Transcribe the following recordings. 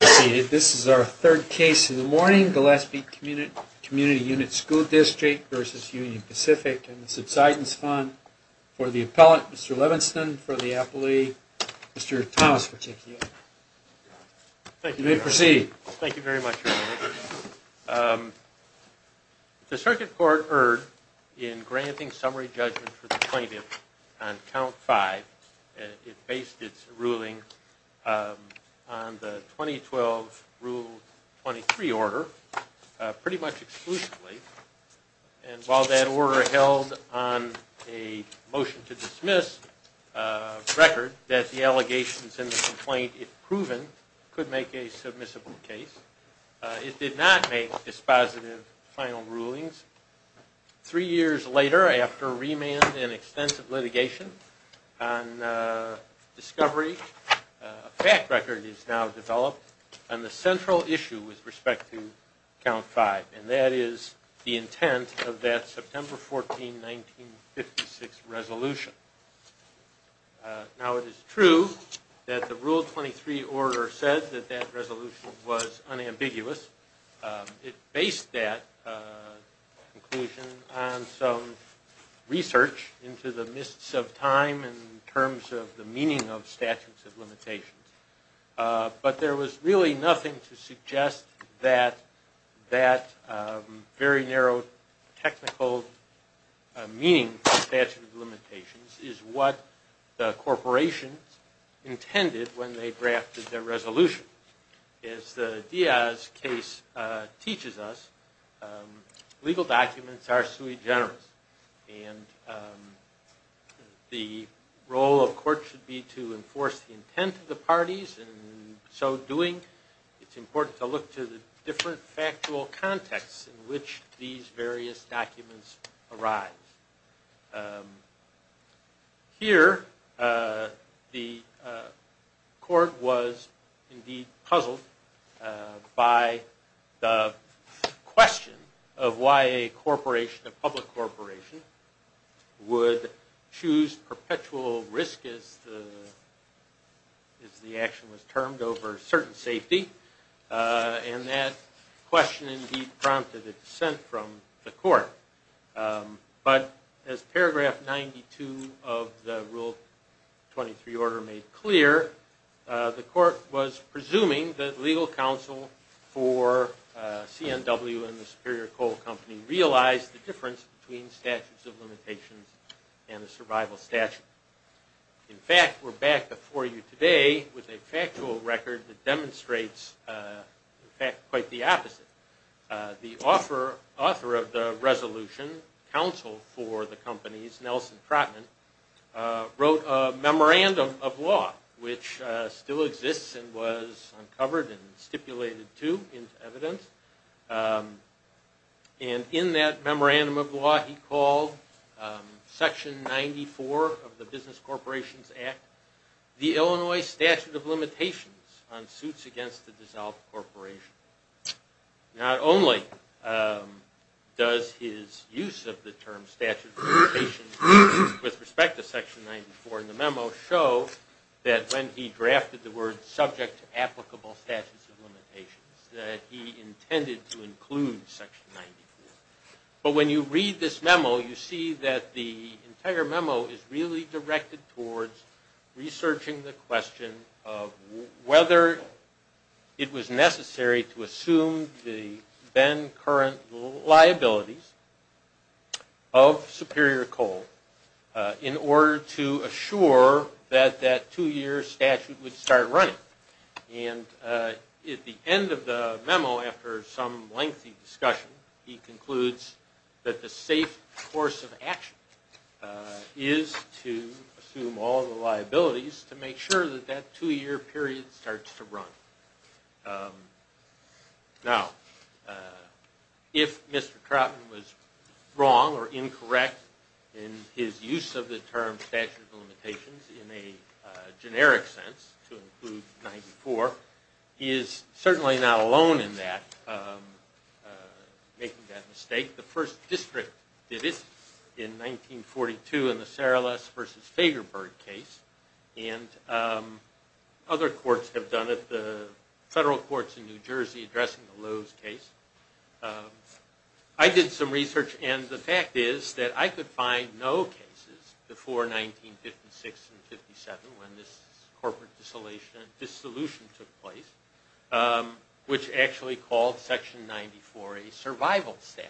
This is our third case in the morning, Gillespie Community Unit School District v. Union Pacific and the subsidence fund for the appellant, Mr. Levenston, for the appellee, Mr. Thomas, for TKU. You may proceed. Thank you very much, Your Honor. The circuit court erred in granting summary judgment for the plaintiff on count five. It based its ruling on the 2012 Rule 23 order, pretty much exclusively. And while that order held on a motion to dismiss record that the allegations in the complaint, if proven, could make a submissible case, it did not make dispositive final rulings. Three years later, after remand and extensive litigation on discovery, a fact record is now developed on the central issue with respect to count five. And that is the intent of that September 14, 1956 resolution. Now it is true that the Rule 23 order said that that resolution was unambiguous. It based that conclusion on some research into the mists of time in terms of the meaning of statutes of limitations. But there was really nothing to suggest that that very narrow technical meaning of statutes of limitations is what the corporations intended when they drafted their resolution. As the Diaz case teaches us, legal documents are sui generis. And the role of court should be to enforce the intent of the parties. In so doing, it's important to look to the different factual contexts in which these various documents arise. Here, the court was indeed puzzled by the question of why a corporation, a public corporation, would choose perpetual risk, as the action was termed, over certain safety. And that question indeed prompted a dissent from the court. But as paragraph 92 of the Rule 23 order made clear, the court was presuming that legal counsel for CNW and the Superior Coal Company realized the difference between statutes of limitations and a survival statute. In fact, we're back before you today with a factual record that demonstrates, in fact, quite the opposite. The author of the resolution, counsel for the companies, Nelson Trotman, wrote a memorandum of law, which still exists and was uncovered and stipulated, too, into evidence. And in that memorandum of law, he called Section 94 of the Business Corporations Act, the Illinois statute of limitations on suits against the dissolved corporation. Not only does his use of the term statute of limitations with respect to Section 94 in the memo show that when he drafted the word subject to applicable statutes of limitations, that he intended to include Section 94. But when you read this memo, you see that the entire memo is really directed towards researching the question of whether it was necessary to assume the then current liabilities of Superior Coal in order to assure that that two-year statute would start running. And at the end of the memo, after some lengthy discussion, he concludes that the safe course of action is to assume all the liabilities to make sure that that two-year period starts to run. Now, if Mr. Trotman was wrong or incorrect in his use of the term statute of limitations in a generic sense to include 94, he is certainly not alone in that, making that mistake. The first district did this in 1942 in the Sarales v. Fagerberg case, and other courts have done it, the federal courts in New Jersey addressing the Lowe's case. I did some research, and the fact is that I could find no cases before 1956 and 57 when this corporate dissolution took place, which actually called Section 94 a survival statute.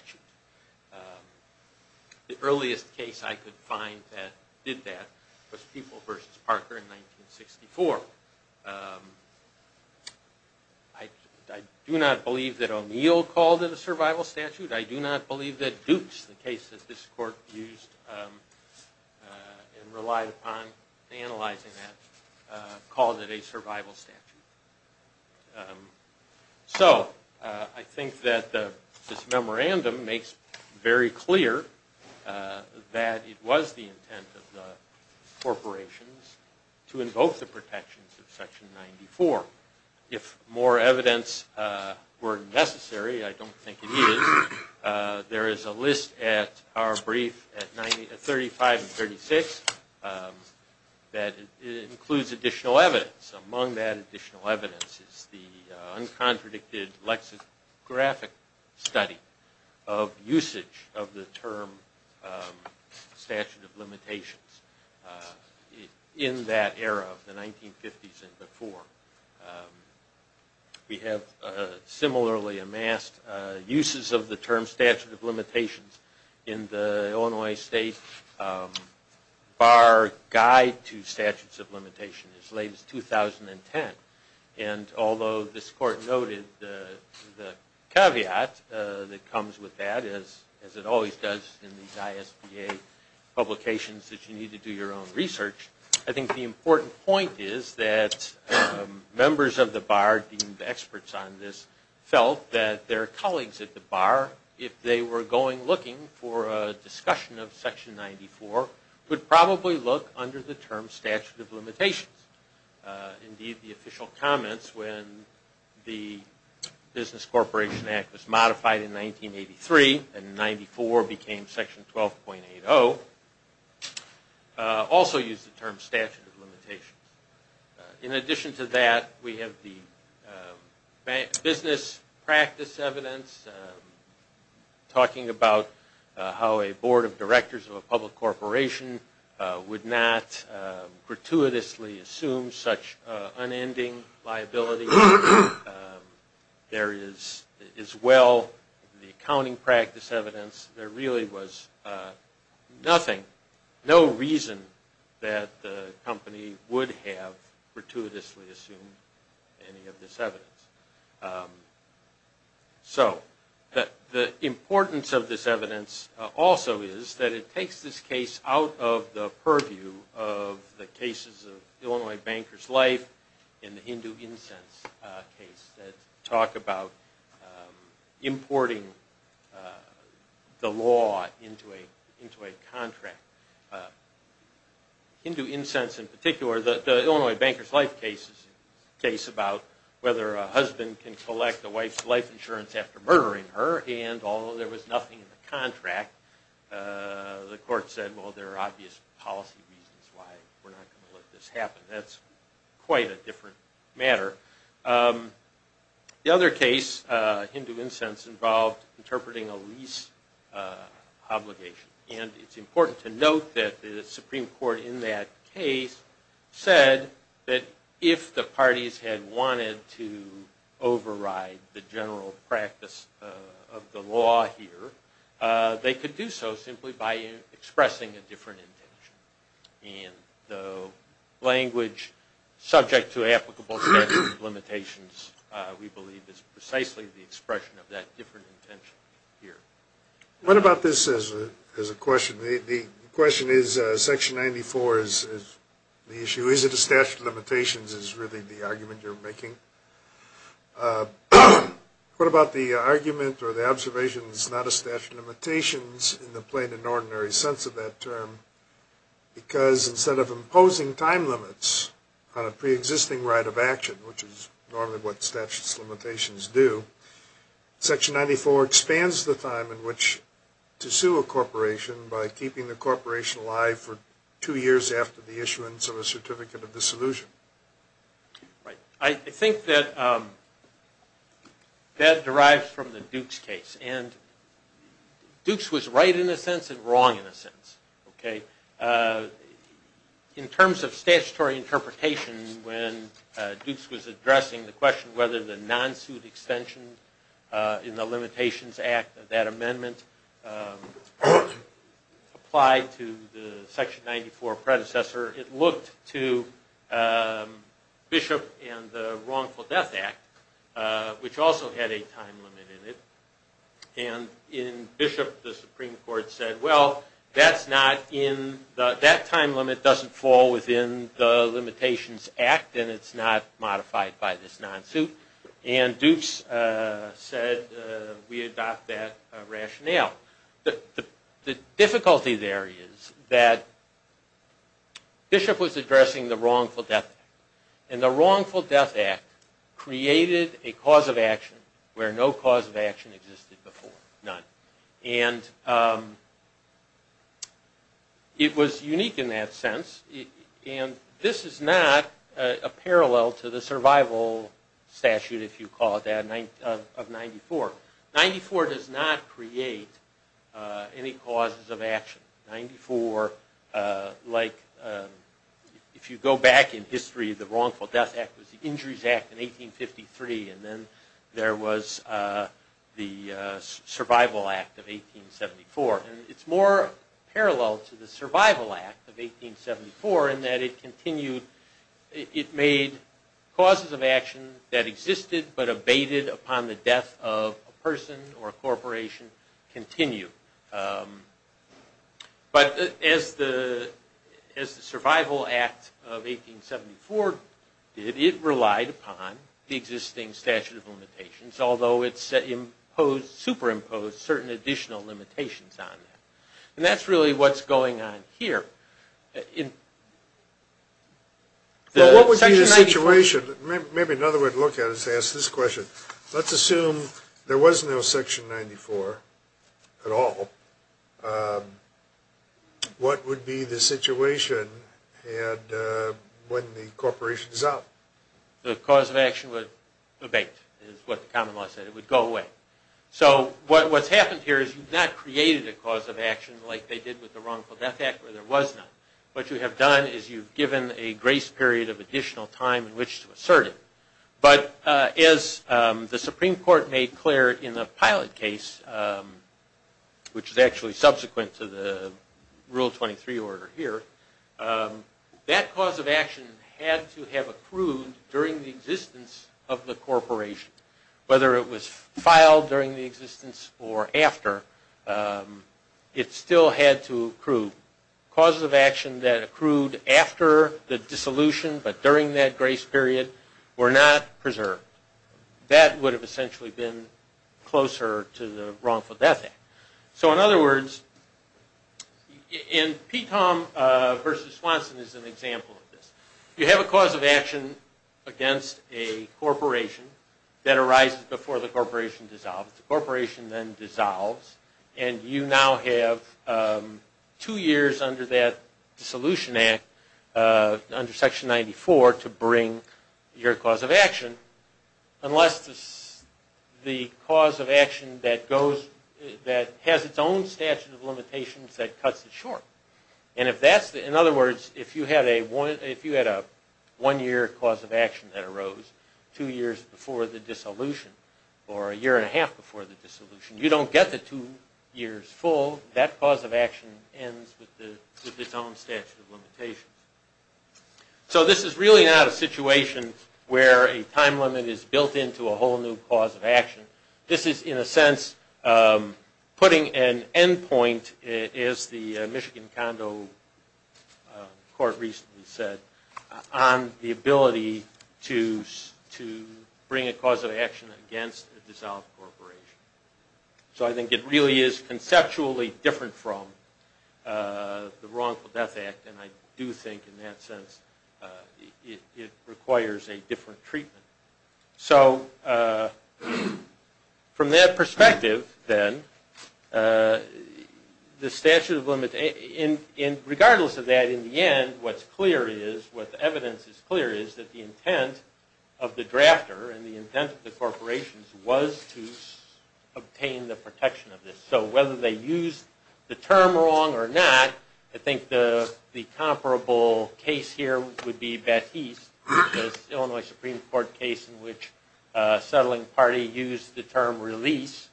The earliest case I could find that did that was People v. Parker in 1964. I do not believe that O'Neill called it a survival statute. I do not believe that Dukes, the case that this court used and relied upon in analyzing that, called it a survival statute. So, I think that this memorandum makes very clear that it was the intent of the corporations to invoke the protections of Section 94. If more evidence were necessary, I don't think it is, there is a list at our brief at 35 and 36 that includes additional evidence. Among that additional evidence is the uncontradicted lexicographic study of usage of the term statute of limitations in that era of the 1950s and before. We have similarly amassed uses of the term statute of limitations in the Illinois State Bar Guide to Statutes of Limitation as late as 2010. Although this court noted the caveat that comes with that, as it always does in these ISBA publications that you need to do your own research, I think the important point is that members of the bar deemed experts on this felt that their colleagues at the bar, if they were going looking for a discussion of Section 94, would probably look under the term statute of limitations. Indeed, the official comments when the Business Corporation Act was modified in 1983 and 94 became Section 12.80 also used the term statute of limitations. In addition to that, we have the business practice evidence talking about how a board of directors of a public corporation would not gratuitously assume such unending liability. There is, as well, the accounting practice evidence. There really was nothing, no reason that the company would have gratuitously assumed any of this evidence. The importance of this evidence also is that it takes this case out of the purview of the cases of Illinois Banker's Life and the Hindu Incense case that talk about whether a husband can collect a wife's life insurance after murdering her, and although there was nothing in the contract, the court said, well, there are obvious policy reasons why we're not going to let this happen. That's quite a different matter. The other case, Hindu Incense, involved interpreting a lease obligation. It's important to note that the Supreme Court in that case said that if the parties had wanted to override the general practice of the law here, they could do so simply by expressing a different intention. The language subject to applicable statute of limitations, we believe, is precisely the expression of that different intention here. What about this as a question? The question is, Section 94 is the issue. Is it a statute of limitations is really the argument you're making. What about the argument or the observation that it's not a statute of limitations in the plain and ordinary sense of that term, because instead of imposing time limits on a pre-existing right of action, which is normally what statute of limitations do, Section 94 expands the time in which to sue a corporation by keeping the corporation alive for two years after the issuance of a certificate of dissolution. Right. I think that that derives from the Dukes case, and Dukes was right in a sense and wrong in a sense. In terms of statutory interpretation, when Dukes was addressing the question whether the non-suit extension in the Limitations Act, that amendment applied to the Section 94 predecessor, it looked to Bishop and the Wrongful Death Act, which also had a time limit in it. And in Bishop, the Supreme Court said, well, that time limit doesn't fall within the Limitations Act, and it's not modified by this non-suit. And Dukes said, we adopt that rationale. The difficulty there is that Bishop was addressing the Wrongful Death Act, and the Wrongful Death Act created a cause of action where no cause of action existed before, none. And it was unique in that sense, and this is not a parallel to the survival statute, if you call it that, of 94. 94 does not create any causes of action. 94, like if you go back in history, the Wrongful Death Act was the Injuries Act in 1853, and then there was the Survival Act of 1874. And it's more parallel to the Survival Act of 1874 in that it continued, it made causes of action that existed but abated upon the death of a person or a corporation continue. But as the Survival Act of 1874 did, it relied upon the existing statute of limitations, although it superimposed certain additional limitations on that. And that's really what's going on here. Well, what would be the situation? Maybe another way to look at it is to ask this question. Let's assume there was no Section 94 at all. What would be the situation when the corporation is out? The cause of action would abate, is what the common law said. It would go away. So what's happened here is you've not created a cause of action like they did with the Wrongful Death Act, where there was none. What you have done is you've given a grace period of additional time in which to assert it. But as the Supreme Court made clear in the Pilot case, which is actually subsequent to the Rule 23 order here, that cause of action had to have accrued during the existence of the corporation, whether it was filed during the existence or after, it still had to accrue. Causes of action that accrued after the dissolution but during that grace period were not preserved. That would have essentially been closer to the Wrongful Death Act. So in other words, and P. Tom versus Swanson is an example of this. You have a cause of action against a corporation that arises before the corporation dissolves. The corporation then dissolves, and you now have two years under that Dissolution Act, under Section 94, to bring your cause of action, unless the cause of action that has its own statute of limitations that cuts it short. In other words, if you had a one-year cause of action that arose two years before the dissolution, or a year and a half before the dissolution, you don't get the two years full. That cause of action ends with its own statute of limitations. So this is really not a situation where a time limit is built into a whole new cause of action. This is, in a sense, putting an end point, as the Michigan Condo Court recently said, on the ability to bring a cause of action against a dissolved corporation. So I think it really is conceptually different from the Wrongful Death Act, and I do think in that sense it requires a different treatment. So from that perspective, then, the statute of limitations, regardless of that, in the end what's clear is, what the evidence is clear is, that the intent of the drafter and the intent of the corporations was to obtain the protection of this. So whether they used the term wrong or not, I think the comparable case here would be Batiste, the Illinois Supreme Court case in which a settling party used the term release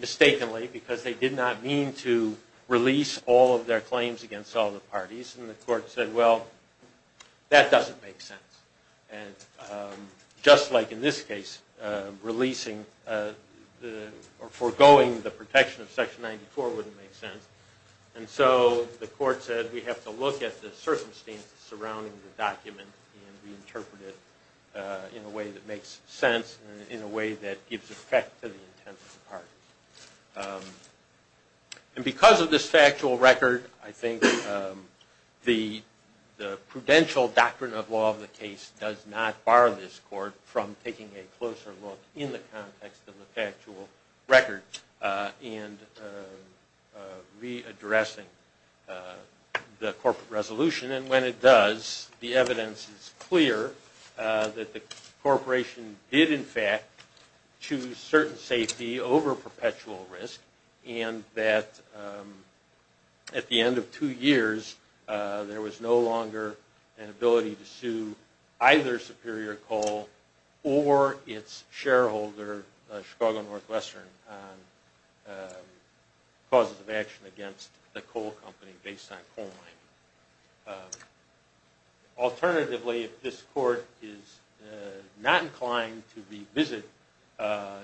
mistakenly because they did not mean to release all of their claims against all the parties. And the court said, well, that doesn't make sense. And just like in this case, releasing or foregoing the protection of Section 94 wouldn't make sense. And so the court said, we have to look at the circumstances surrounding the document and reinterpret it in a way that makes sense and in a way that gives effect to the intent of the parties. And because of this factual record, I think the prudential doctrine of law of the case does not bar this court from taking a closer look in the context of the factual record and readdressing the corporate resolution. And when it does, the evidence is clear that the corporation did, in fact, choose certain safety over perpetual risk and that at the end of two years, there was no longer an ability to sue either Superior Coal or its shareholder, Chicago Northwestern, on causes of action against the coal company based on coal mining. Alternatively, if this court is not inclined to revisit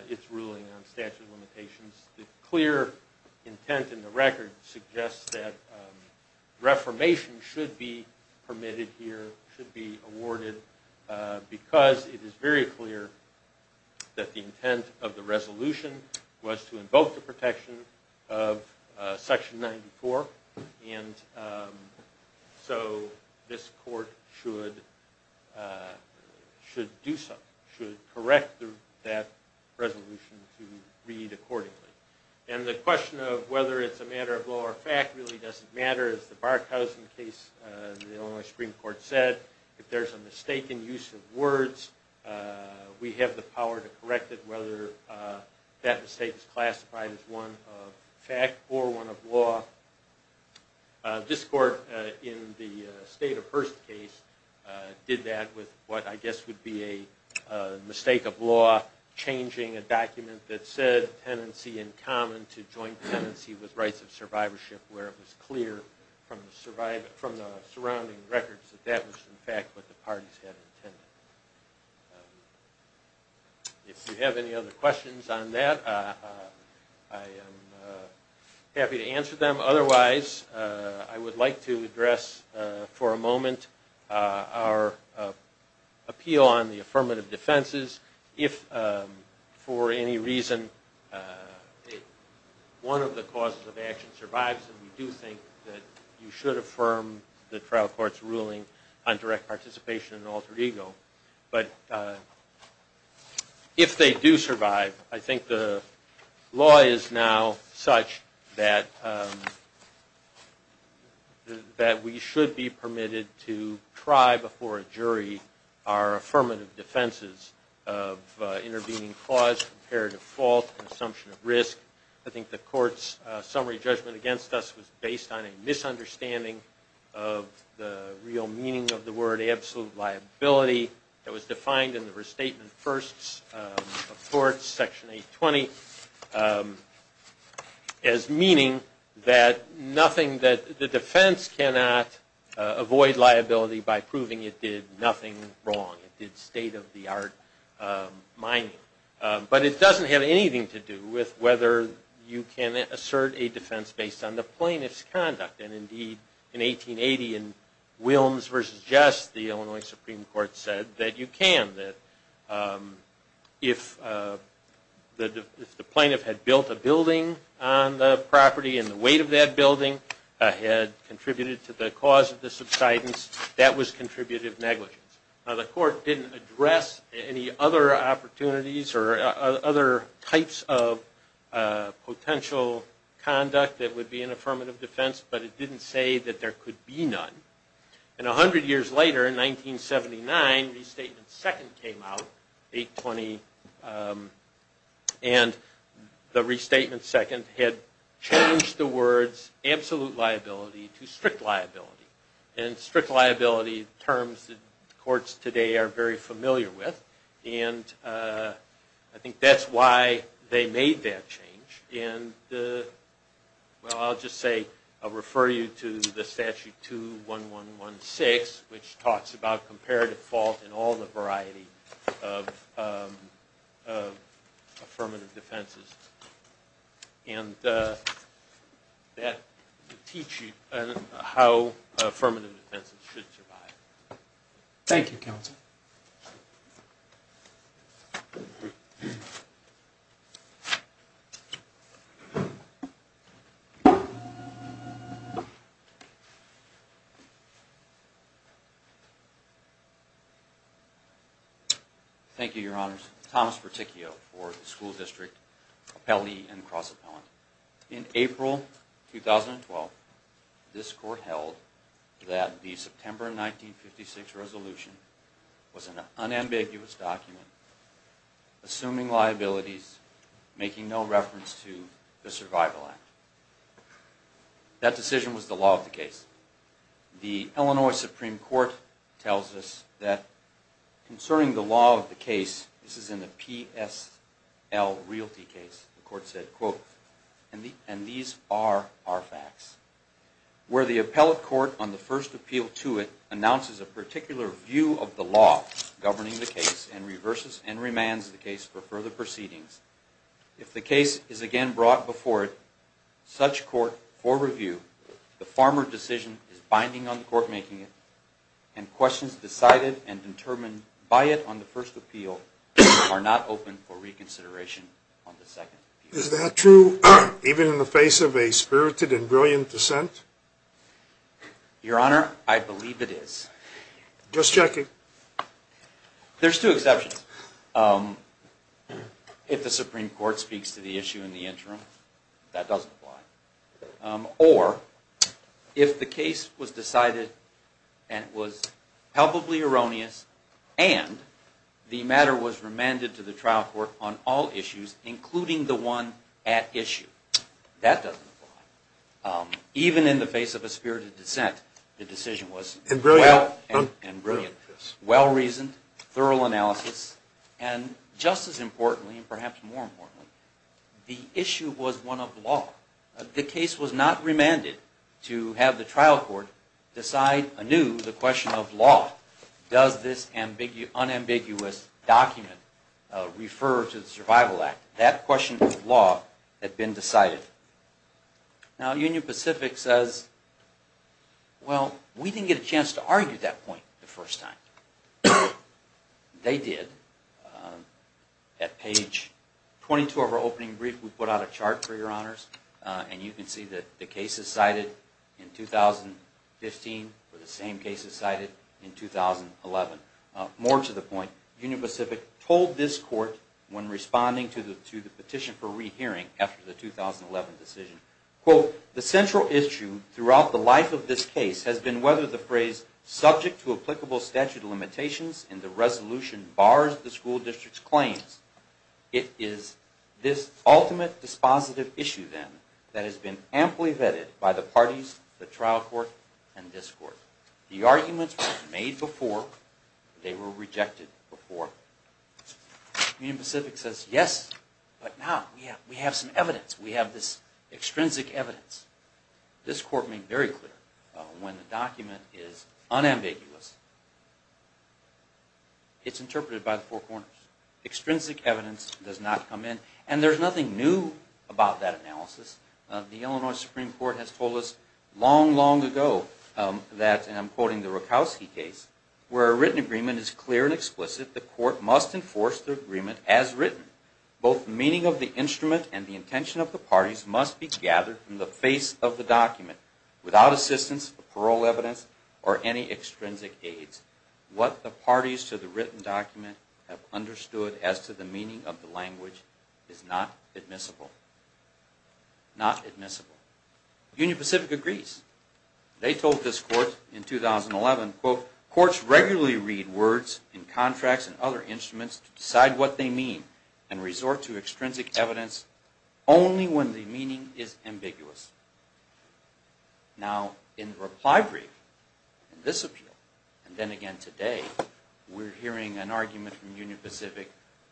its ruling on statute of limitations, the clear intent in the record suggests that reformation should be permitted here, should be awarded because it is very clear that the intent of the resolution was to invoke the protection of Section 94. And so this court should do so, should correct that resolution to read accordingly. And the question of whether it's a matter of law or fact really doesn't matter. As the Barkhausen case, the Illinois Supreme Court said, if there's a mistaken use of words, we have the power to correct it whether that mistake is classified as one of fact or one of law. This court in the State of Hearst case did that with what I guess would be a mistake of law, changing a document that said tenancy in common to joint tenancy with rights of survivorship where it was clear from the surrounding records that that was in fact what the parties had intended. If you have any other questions on that, I am happy to answer them. Otherwise, I would like to address for a moment our appeal on the affirmative defenses. If for any reason one of the causes of action survives, then we do think that you should affirm the trial court's ruling on direct participation and altered ego. But if they do survive, I think the law is now such that we should be permitted to try before a jury our affirmative defenses of intervening clause, comparative fault, and assumption of risk. I think the court's summary judgment against us was based on a misunderstanding of the real meaning of the word absolute liability that was defined in the Restatement of Firsts of Courts, Section 820, as meaning that the defense cannot avoid liability by proving it did nothing wrong. It did state of the art mining. But it doesn't have anything to do with whether you can assert a defense based on the plaintiff's conduct. And indeed, in 1880 in Wilms v. Jess, the Illinois Supreme Court said that you can. If the plaintiff had built a building on the property and the weight of that building had contributed to the cause of the subsidence, that was contributive negligence. The court didn't address any other opportunities or other types of potential conduct that would be an affirmative defense, but it didn't say that there could be none. And 100 years later, in 1979, Restatement Second came out, 820. And the Restatement Second had changed the words absolute liability to strict liability. And strict liability terms that courts today are very familiar with. And I think that's why they made that change. And, well, I'll just say, I'll refer you to the Statute 21116, which talks about comparative fault in all the variety of affirmative defenses. And that will teach you how affirmative defenses should survive. Thank you, Counsel. Thank you, Your Honors. Thomas Berticchio for the School District Appellee and Cross-Appellant. In April 2012, this court held that the September 1956 resolution was an unambiguous document, assuming liabilities, making no reference to the Survival Act. That decision was the law of the case. The Illinois Supreme Court tells us that concerning the law of the case, this is in the PSL realty case, the court said, quote, and these are our facts. Where the appellate court on the first appeal to it announces a particular view of the law governing the case and reverses and remands the case for further proceedings, if the case is again brought before such court for review, the former decision is binding on the court making it and questions decided and determined by it on the first appeal are not open for reconsideration on the second appeal. Is that true even in the face of a spirited and brilliant dissent? Your Honor, I believe it is. Just checking. There's two exceptions. If the Supreme Court speaks to the issue in the interim, that does apply. Or if the case was decided and it was palpably erroneous and the matter was remanded to the trial court on all issues, including the one at issue, that doesn't apply. Even in the face of a spirited dissent, the decision was well- And brilliant. And brilliant. Well-reasoned, thorough analysis, and just as importantly and perhaps more importantly, the issue was one of law. The case was not remanded to have the trial court decide anew the question of law. Does this unambiguous document refer to the Survival Act? That question of law had been decided. Now Union Pacific says, well, we didn't get a chance to argue that point the first time. They did. At page 22 of our opening brief, we put out a chart for your honors. And you can see that the cases cited in 2015 were the same cases cited in 2011. More to the point, Union Pacific told this court when responding to the petition for rehearing after the 2011 decision, quote, the central issue throughout the life of this case has been whether the phrase, subject to applicable statute of limitations in the resolution bars the school district's claims. It is this ultimate dispositive issue, then, that has been amply vetted by the parties, the trial court, and this court. The arguments were made before. They were rejected before. Union Pacific says, yes, but now we have some evidence. We have this extrinsic evidence. This court made very clear when the document is unambiguous, it's interpreted by the four corners. Extrinsic evidence does not come in. And there's nothing new about that analysis. The Illinois Supreme Court has told us long, long ago that, and I'm quoting the Rakowski case, where a written agreement is clear and explicit, the court must enforce the agreement as written, both the meaning of the instrument and the intention of the parties must be gathered from the face of the document without assistance, parole evidence, or any extrinsic aids. What the parties to the written document have understood as to the meaning of the language is not admissible. Not admissible. Union Pacific agrees. They told this court in 2011, quote, courts regularly read words in contracts and other instruments to decide what they mean and resort to extrinsic evidence only when the meaning is ambiguous. Now, in the reply brief, in this appeal, and then again today, we're hearing an argument from Union Pacific,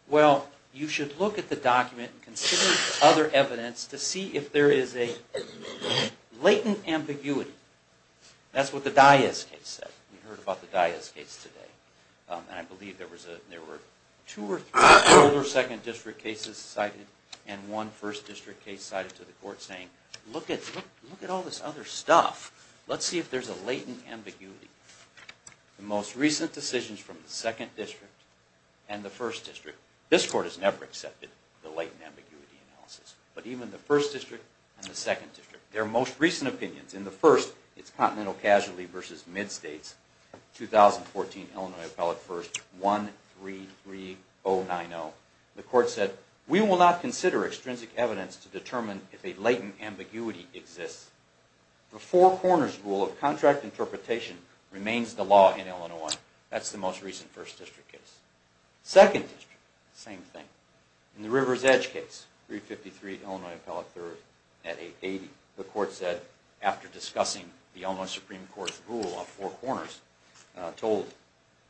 well, you should look at the document and consider other evidence to see if there is a latent ambiguity. That's what the Diaz case said. We heard about the Diaz case today. And I believe there were two or three older second district cases cited, and one first district case cited to the court saying, look at all this other stuff. Let's see if there's a latent ambiguity. The most recent decisions from the second district and the first district, this court has never accepted the latent ambiguity analysis. But even the first district and the second district, their most recent opinions, in the first, it's Continental Casualty versus Mid-States, 2014, Illinois Appellate First, 133090. The court said, we will not consider extrinsic evidence to determine if a latent ambiguity exists. The four corners rule of contract interpretation remains the law in Illinois. That's the most recent first district case. Second district, same thing. In the River's Edge case, 353, Illinois Appellate Third, at 880, the court said, after discussing the Illinois Supreme Court's rule of four corners, told,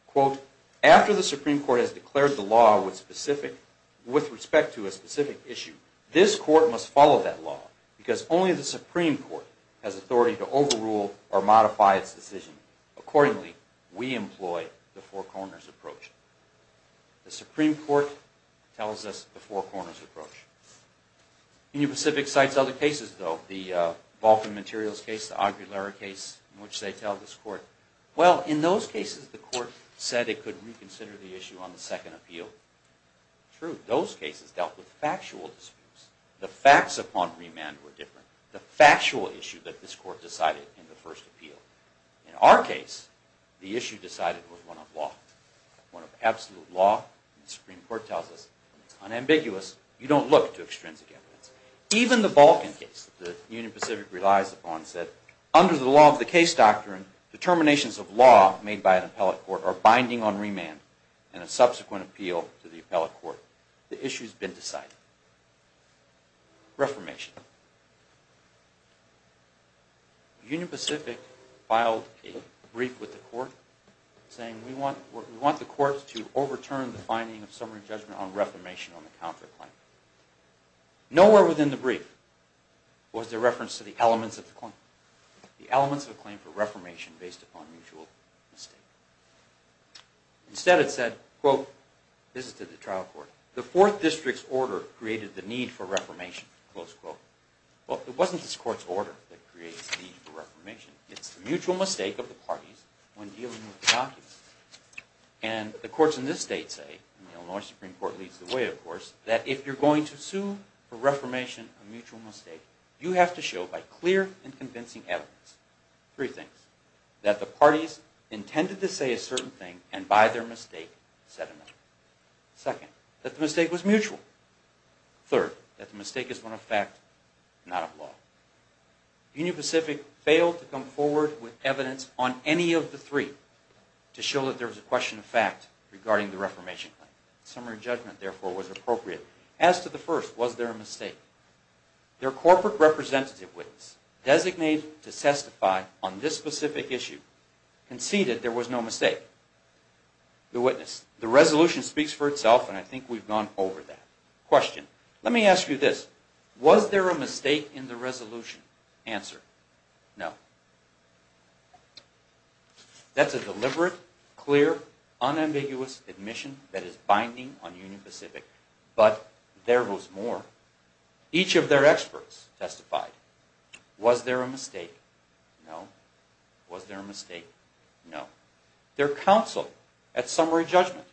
quote, after the Supreme Court has declared the law with respect to a specific issue, this court must follow that law because only the Supreme Court has authority to overrule or modify its decision. Accordingly, we employ the four corners approach. The Supreme Court tells us the four corners approach. Union Pacific cites other cases, though. The Vulcan Materials case, the Aguilera case, in which they tell this court, well, in those cases, the court said it could reconsider the issue on the second appeal. True, those cases dealt with factual disputes. The facts upon remand were different. The factual issue that this court decided in the first appeal. In our case, the issue decided was one of law, one of absolute law. The Supreme Court tells us when it's unambiguous, you don't look to extrinsic evidence. Even the Vulcan case that Union Pacific relies upon said, under the law of the case doctrine, determinations of law made by an appellate court are binding on remand. In a subsequent appeal to the appellate court, the issue's been decided. Reformation. Union Pacific filed a brief with the court saying, we want the courts to overturn the finding of summary judgment on reformation on the counterclaim. Nowhere within the brief was there reference to the elements of the claim. The elements of the claim for reformation based upon mutual mistake. Instead it said, quote, this is to the trial court, the fourth district's order created the need for reformation, close quote. Well, it wasn't this court's order that created the need for reformation. It's the mutual mistake of the parties when dealing with the documents. And the courts in this state say, and the Illinois Supreme Court leads the way, of course, that if you're going to sue for reformation, a mutual mistake, you have to show by clear and convincing evidence, three things, that the parties intended to say a certain thing and by their mistake said another. Second, that the mistake was mutual. Third, that the mistake is one of fact, not of law. Union Pacific failed to come forward with evidence on any of the three to show that there was a question of fact regarding the reformation claim. Summary judgment, therefore, was appropriate. As to the first, was there a mistake? Their corporate representative witness, designated to testify on this specific issue, conceded there was no mistake. The witness, the resolution speaks for itself and I think we've gone over that. Question, let me ask you this, was there a mistake in the resolution? Answer, no. That's a deliberate, clear, unambiguous admission that is binding on Union Pacific. But there was more. Each of their experts testified. Was there a mistake? No. Was there a mistake? No. Their counsel at summary judgment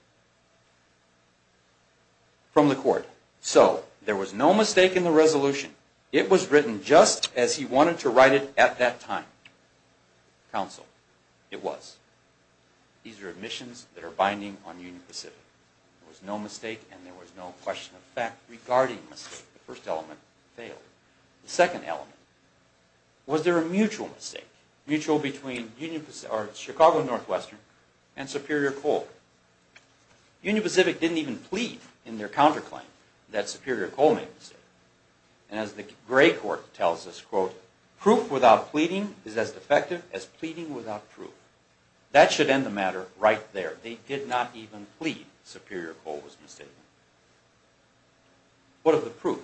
from the court, so there was no mistake in the resolution. It was written just as he wanted to write it at that time. Counsel, it was. These are admissions that are binding on Union Pacific. There was no mistake and there was no question of fact regarding the mistake. The first element failed. The second element, was there a mutual mistake? Mutual between Chicago Northwestern and Superior Coal. Union Pacific didn't even plead in their counterclaim that Superior Coal made a mistake. And as the gray court tells us, quote, proof without pleading is as defective as pleading without proof. That should end the matter right there. They did not even plead Superior Coal was mistaken. What of the proof?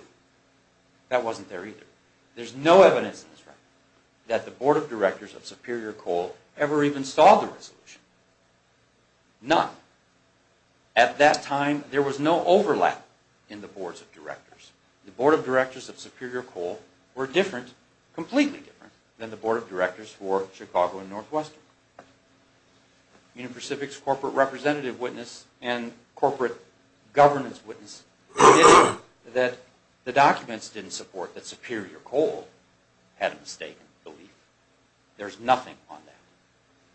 That wasn't there either. There's no evidence in this record that the board of directors of Superior Coal ever even saw the resolution. None. At that time, there was no overlap in the boards of directors. The board of directors of Superior Coal were different, completely different, than the board of directors for Chicago and Northwestern. Union Pacific's corporate representative witness and corporate governance witness admitted that the documents didn't support that Superior Coal had a mistake in the belief. There's nothing on that.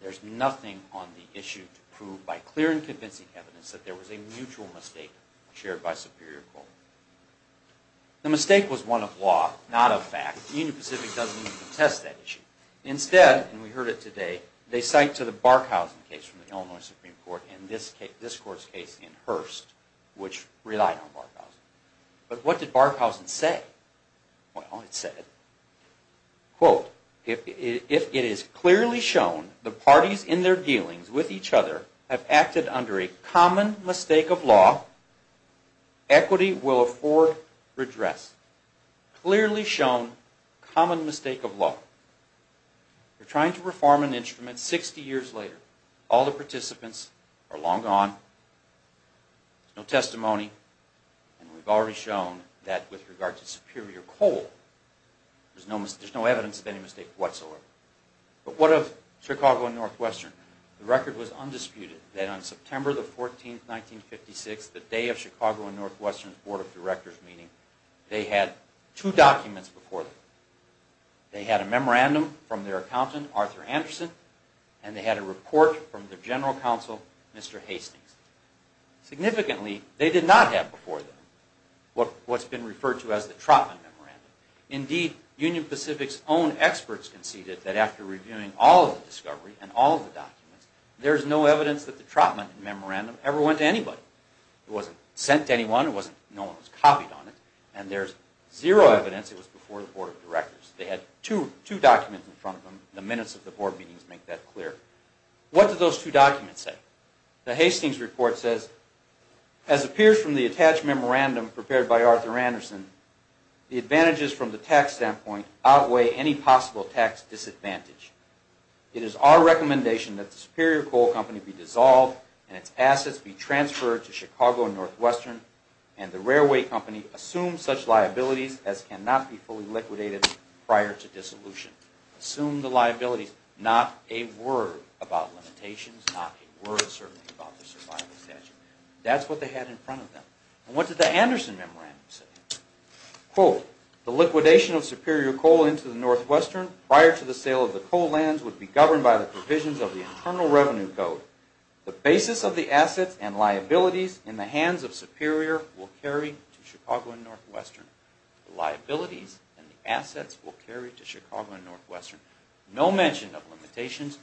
There's nothing on the issue to prove by clear and convincing evidence that there was a mutual mistake shared by Superior Coal. The mistake was one of law, not of fact. Union Pacific doesn't even contest that issue. Instead, and we heard it today, they cite to the Barkhausen case from the Illinois Supreme Court and this court's case in Hearst, which relied on Barkhausen. But what did Barkhausen say? Well, it said, quote, if it is clearly shown the parties in their dealings with each other have acted under a common mistake of law, equity will afford redress. Clearly shown common mistake of law. They're trying to reform an instrument 60 years later. All the participants are long gone. There's no testimony. And we've already shown that with regard to Superior Coal, there's no evidence of any mistake whatsoever. But what of Chicago and Northwestern? The record was undisputed that on September 14, 1956, the day of Chicago and Northwestern's Board of Directors meeting, they had two documents before them. They had a memorandum from their accountant, Arthur Anderson, and they had a report from their general counsel, Mr. Hastings. Significantly, they did not have before them what's been referred to as the Trotman Memorandum. Indeed, Union Pacific's own experts conceded that after reviewing all of the discovery and all of the documents, there's no evidence that the Trotman Memorandum ever went to anybody. It wasn't sent to anyone. No one was copied on it. And there's zero evidence it was before the Board of Directors. They had two documents in front of them. The minutes of the board meetings make that clear. What do those two documents say? The Hastings report says, as appears from the attached memorandum prepared by Arthur Anderson, the advantages from the tax standpoint outweigh any possible tax disadvantage. It is our recommendation that the Superior Coal Company be dissolved and its assets be transferred to Chicago and Northwestern, and the railway company assume such liabilities as cannot be fully liquidated prior to dissolution. Assume the liabilities, not a word about limitations, not a word, certainly, about the survival statute. That's what they had in front of them. And what did the Anderson Memorandum say? Quote, the liquidation of Superior Coal into the Northwestern prior to the sale of the coal lands would be governed by the provisions of the Internal Revenue Code. The basis of the assets and liabilities in the hands of Superior will carry to Chicago and Northwestern. The liabilities and the assets will carry to Chicago and Northwestern. No mention of limitations,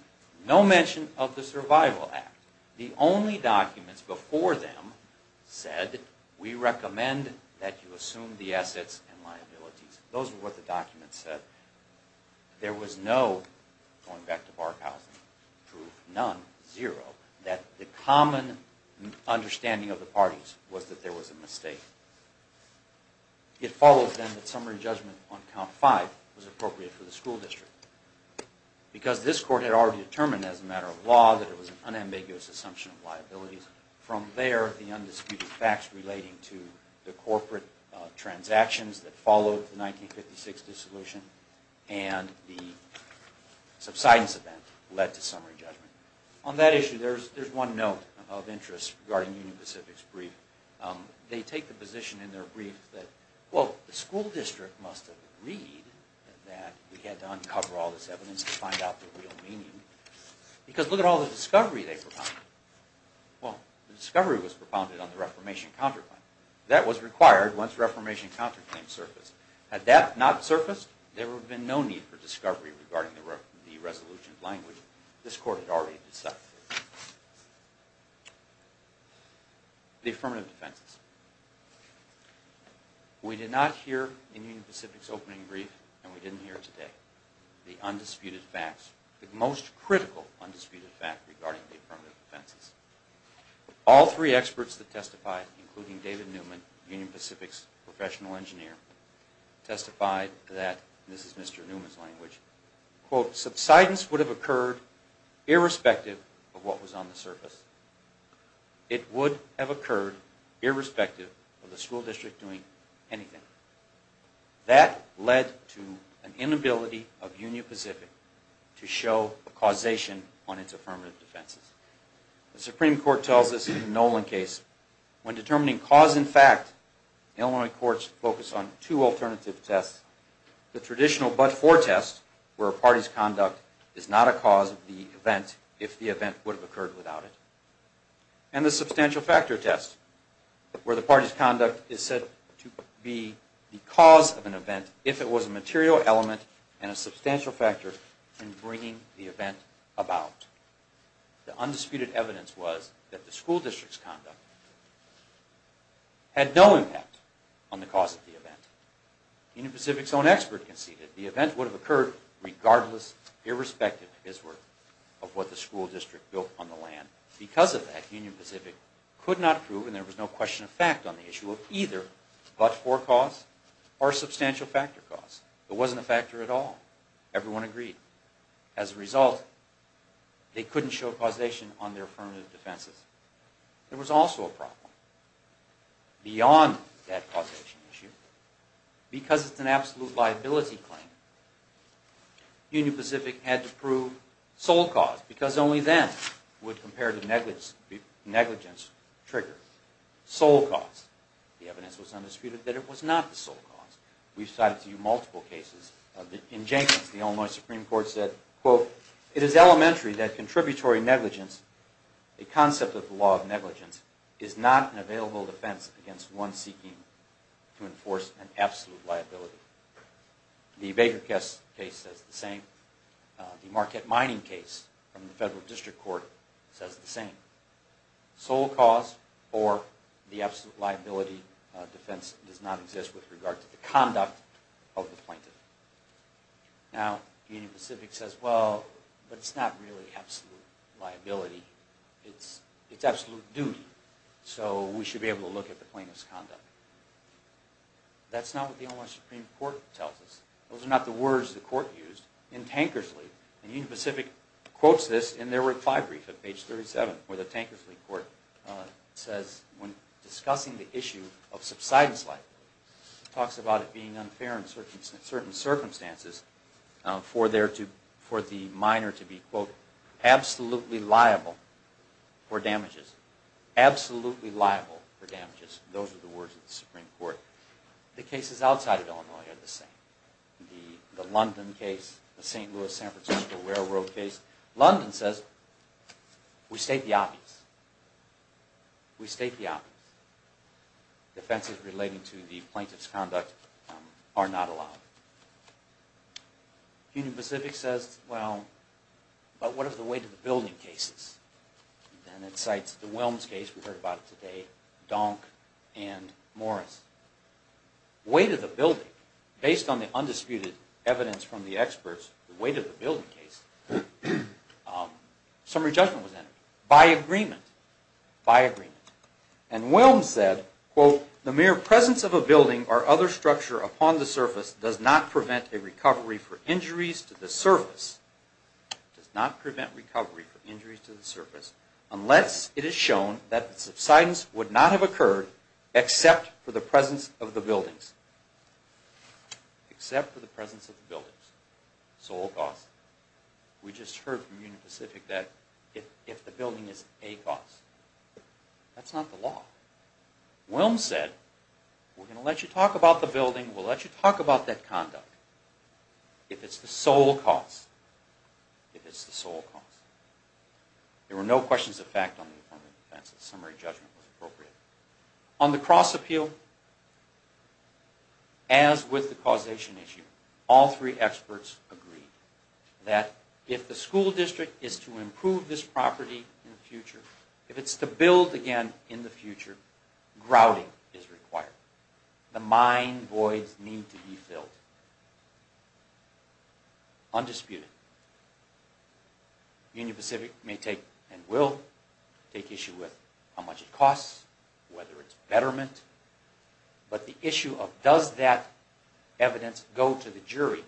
no mention of the survival act. The only documents before them said, we recommend that you assume the assets and liabilities. Those were what the documents said. There was no, going back to Barkhausen, true, none, zero, that the common understanding of the parties was that there was a mistake. It follows then that summary judgment on count five was appropriate for the school district. Because this court had already determined as a matter of law that it was an unambiguous assumption of liabilities. From there, the undisputed facts relating to the corporate transactions that followed the 1956 dissolution and the subsidence event led to summary judgment. On that issue, there's one note of interest regarding Union Pacific's brief. They take the position in their brief that, well, the school district must have agreed that we had to uncover all this evidence to find out the real meaning. Because look at all the discovery they propounded. Well, the discovery was propounded on the Reformation counterclaim. That was required once Reformation counterclaims surfaced. Had that not surfaced, there would have been no need for discovery regarding the resolution of language this court had already decided. The affirmative defenses. We did not hear in Union Pacific's opening brief, and we didn't hear it today, the undisputed facts, the most critical undisputed fact regarding the affirmative defenses. All three experts that testified, including David Newman, Union Pacific's professional engineer, testified that, and this is Mr. Newman's language, quote, subsidence would have occurred irrespective of what was on the surface. It would have occurred irrespective of the school district doing anything. That led to an inability of Union Pacific to show causation on its affirmative defenses. The Supreme Court tells us in the Nolan case, when determining cause and fact, Illinois courts focus on two alternative tests. The traditional but-for test, where a party's conduct is not a cause of the event if the event would have occurred without it. And the substantial factor test, where the party's conduct is said to be the cause of an event if it was a material element and a substantial factor in bringing the event about. The undisputed evidence was that the school district's conduct had no impact on the cause of the event. Union Pacific's own expert conceded the event would have occurred regardless, irrespective, his word, of what the school district built on the land. Because of that, Union Pacific could not prove, and there was no question of fact on the issue, of either but-for cause or substantial factor cause. There wasn't a factor at all. Everyone agreed. As a result, they couldn't show causation on their affirmative defenses. There was also a problem. Beyond that causation issue, because it's an absolute liability claim, Union Pacific had to prove sole cause, because only then would comparative negligence trigger. Sole cause. The evidence was undisputed that it was not the sole cause. We've cited to you multiple cases of the injunctions. The Illinois Supreme Court said, quote, It is elementary that contributory negligence, a concept of the law of negligence, is not an available defense against one seeking to enforce an absolute liability. The Baker case says the same. The Marquette Mining case from the Federal District Court says the same. Sole cause or the absolute liability defense does not exist with regard to the conduct of the plaintiff. Now, Union Pacific says, well, but it's not really absolute liability. It's absolute duty. So we should be able to look at the plaintiff's conduct. That's not what the Illinois Supreme Court tells us. Those are not the words the court used in Tankersley. And Union Pacific quotes this in their reply brief at page 37, where the Tankersley court says, when discussing the issue of subsidence liability, it talks about it being unfair in certain circumstances for the miner to be, quote, absolutely liable for damages. Absolutely liable for damages. Those are the words of the Supreme Court. The cases outside of Illinois are the same. The London case, the St. Louis-San Francisco railroad case. London says, we state the obvious. We state the obvious. Defenses relating to the plaintiff's conduct are not allowed. Union Pacific says, well, but what of the weight of the building cases? And it cites the Wilms case. We heard about it today. Donk and Morris. Weight of the building. Based on the undisputed evidence from the experts, the weight of the building case, summary judgment was entered. By agreement. By agreement. And Wilms said, quote, the mere presence of a building or other structure upon the surface does not prevent a recovery for injuries to the surface. Does not prevent recovery for injuries to the surface unless it is shown that subsidence would not have occurred except for the presence of the buildings. Except for the presence of the buildings. Sole cause. We just heard from Union Pacific that if the building is a cause, that's not the law. Wilms said, we're going to let you talk about the building. We'll let you talk about that conduct. If it's the sole cause. If it's the sole cause. There were no questions of fact on the affirmative defense. The summary judgment was appropriate. On the cross appeal, as with the causation issue, all three experts agreed that if the school district is to improve this property in the future, if it's to build again in the future, grouting is required. The mine voids need to be filled. Undisputed. Union Pacific may take and will take issue with how much it costs, whether it's betterment, but the issue of does that evidence go to the jury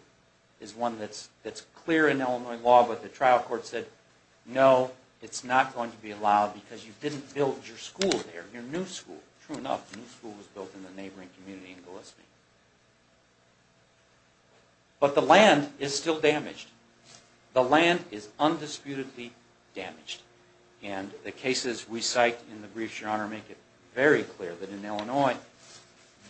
is one that's clear in Illinois law, but the trial court said, no, it's not going to be allowed because you didn't build your school there, your new school. True enough, the new school was built in the neighboring community in Gillespie. But the land is still damaged. The land is undisputedly damaged. And the cases we cite in the briefs, Your Honor, make it very clear that in Illinois,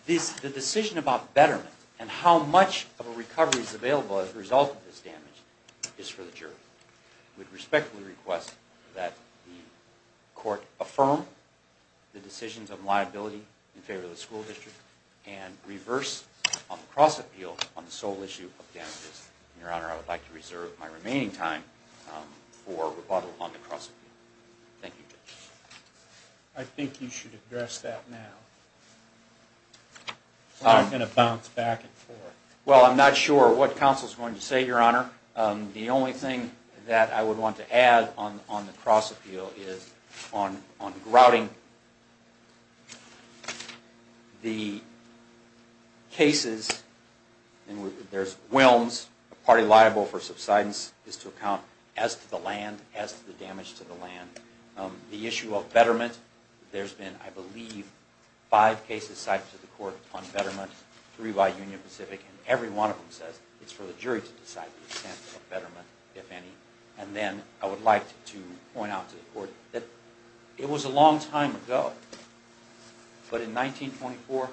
the decision about betterment and how much of a recovery is available as a result of this damage is for the jury. I would respectfully request that the court affirm the decisions of liability in favor of the school district and reverse on the cross appeal on the sole issue of damages. And, Your Honor, I would like to reserve my remaining time for rebuttal on the cross appeal. Thank you, Judge. I think you should address that now. I'm going to bounce back and forth. Well, I'm not sure what counsel is going to say, Your Honor. The only thing that I would want to add on the cross appeal is on grouting. The cases, there's whelms, a party liable for subsidence is to account as to the land, as to the damage to the land. The issue of betterment, there's been, I believe, five cases cited to the court on betterment, three by Union Pacific, and every one of them says it's for the jury to decide the extent of betterment, if any. And then I would like to point out to the court that it was a long time ago, but in 1924,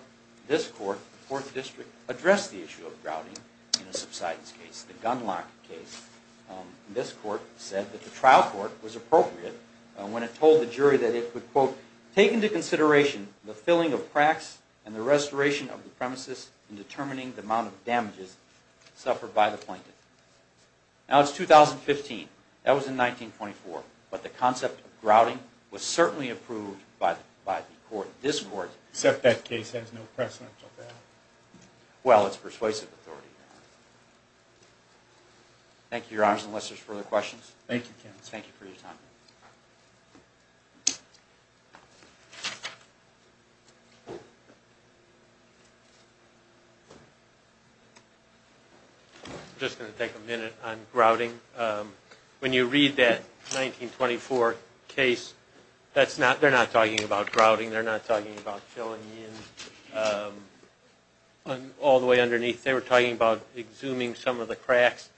this court, the Fourth District, addressed the issue of grouting in a subsidence case, the Gunlock case. This court said that the trial court was appropriate when it told the jury that it would, quote, take into consideration the filling of cracks and the restoration of the premises in determining the amount of damages suffered by the plaintiff. Now, it's 2015. That was in 1924. But the concept of grouting was certainly approved by the court. This court... Except that case has no precedential value. Well, it's persuasive authority. Thank you, Your Honors, unless there's further questions. Thank you, Kevin. Thank you for your time. I'm just going to take a minute on grouting. When you read that 1924 case, they're not talking about grouting, they're not talking about filling in. All the way underneath, they were talking about exhuming some of the cracks,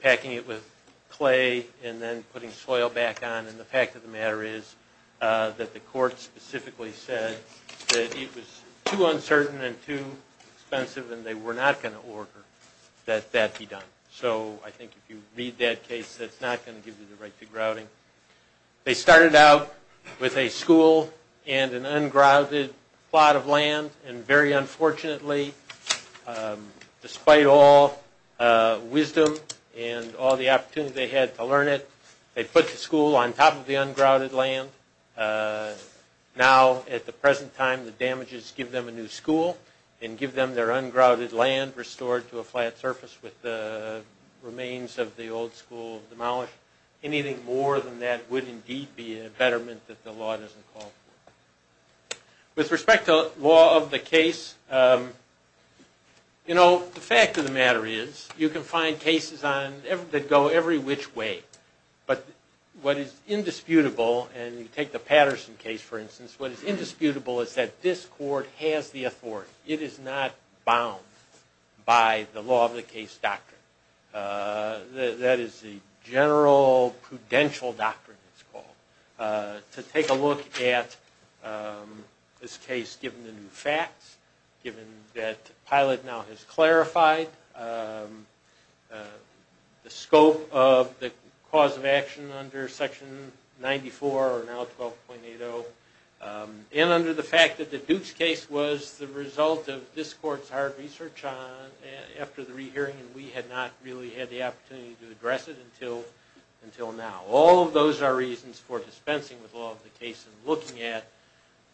packing it with clay, and then putting soil back on. And the fact of the matter is that the court specifically said that it was too uncertain and too expensive, and they were not going to order that that be done. So I think if you read that case, that's not going to give you the right to grouting. They started out with a school and an ungrouted plot of land, and very unfortunately, despite all wisdom and all the opportunity they had to learn it, they put the school on top of the ungrouted land. Now, at the present time, the damages give them a new school and give them their ungrouted land restored to a flat surface with the remains of the old school demolished. Anything more than that would indeed be a betterment that the law doesn't call for. With respect to law of the case, the fact of the matter is you can find cases that go every which way, but what is indisputable, and you take the Patterson case, for instance, what is indisputable is that this court has the authority. It is not bound by the law of the case doctrine. That is the general prudential doctrine, it's called, to take a look at this case, given the new facts, given that Pilate now has clarified the scope of the cause of action under Section 94, or now 12.80, and under the fact that the Dukes case was the result of this court's hard research after the rehearing, and we had not really had the opportunity to address it until now. All of those are reasons for dispensing with law of the case and looking at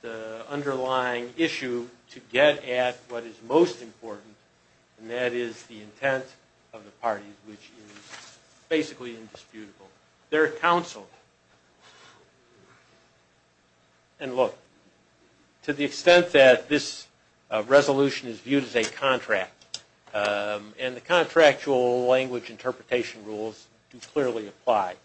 the underlying issue to get at what is most important, and that is the intent of the parties, which is basically indisputable. They're counseled. And look, to the extent that this resolution is viewed as a contract, and the contractual language interpretation rules do clearly apply.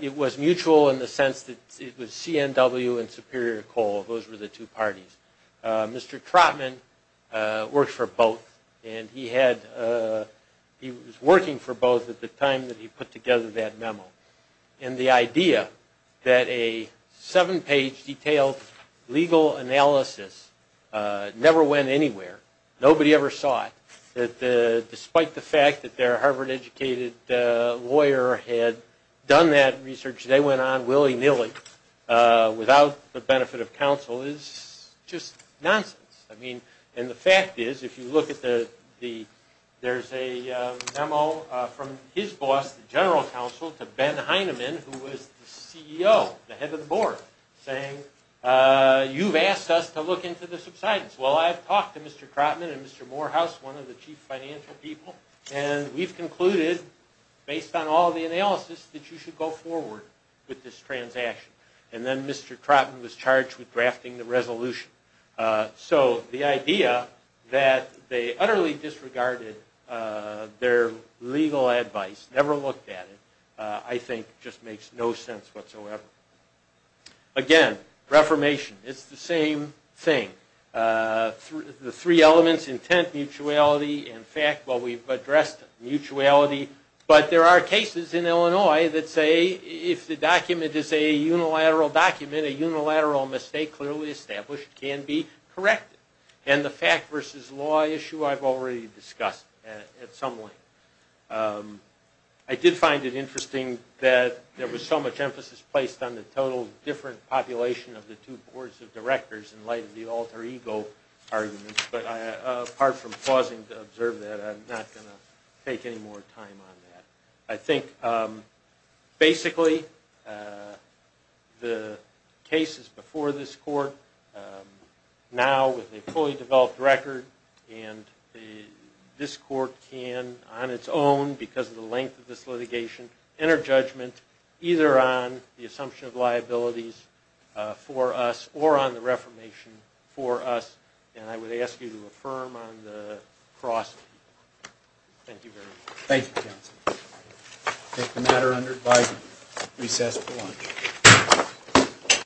It was mutual in the sense that it was CNW and Superior Coal. Those were the two parties. Mr. Trotman worked for both, and he was working for both at the time that he put together that memo. And the idea that a seven-page detailed legal analysis never went anywhere, nobody ever saw it, that despite the fact that their Harvard-educated lawyer had done that research, they went on willy-nilly without the benefit of counsel is just nonsense. I mean, and the fact is, if you look at the... There's a memo from his boss, the general counsel, to Ben Heineman, who was the CEO, the head of the board, saying, you've asked us to look into the subsidence. Well, I've talked to Mr. Trotman and Mr. Morehouse, one of the chief financial people, and we've concluded, based on all the analysis, that you should go forward with this transaction. And then Mr. Trotman was charged with drafting the resolution. So the idea that they utterly disregarded their legal advice, never looked at it, I think just makes no sense whatsoever. Again, reformation, it's the same thing. The three elements, intent, mutuality, and fact, well, we've addressed mutuality, but there are cases in Illinois that say if the document is a unilateral document, a unilateral mistake clearly established can be corrected. And the fact versus law issue I've already discussed at some length. I did find it interesting that there was so much emphasis placed on the total different population of the two boards of directors in light of the alter ego arguments, but apart from pausing to observe that, I'm not going to take any more time on that. I think basically the cases before this court, now with a fully developed record, and this court can, on its own because of the length of this litigation, enter judgment either on the assumption of liabilities for us or on the reformation for us. And I would ask you to affirm on the cross. Thank you very much. Thank you, counsel. I take the matter under advisement. Recess for lunch.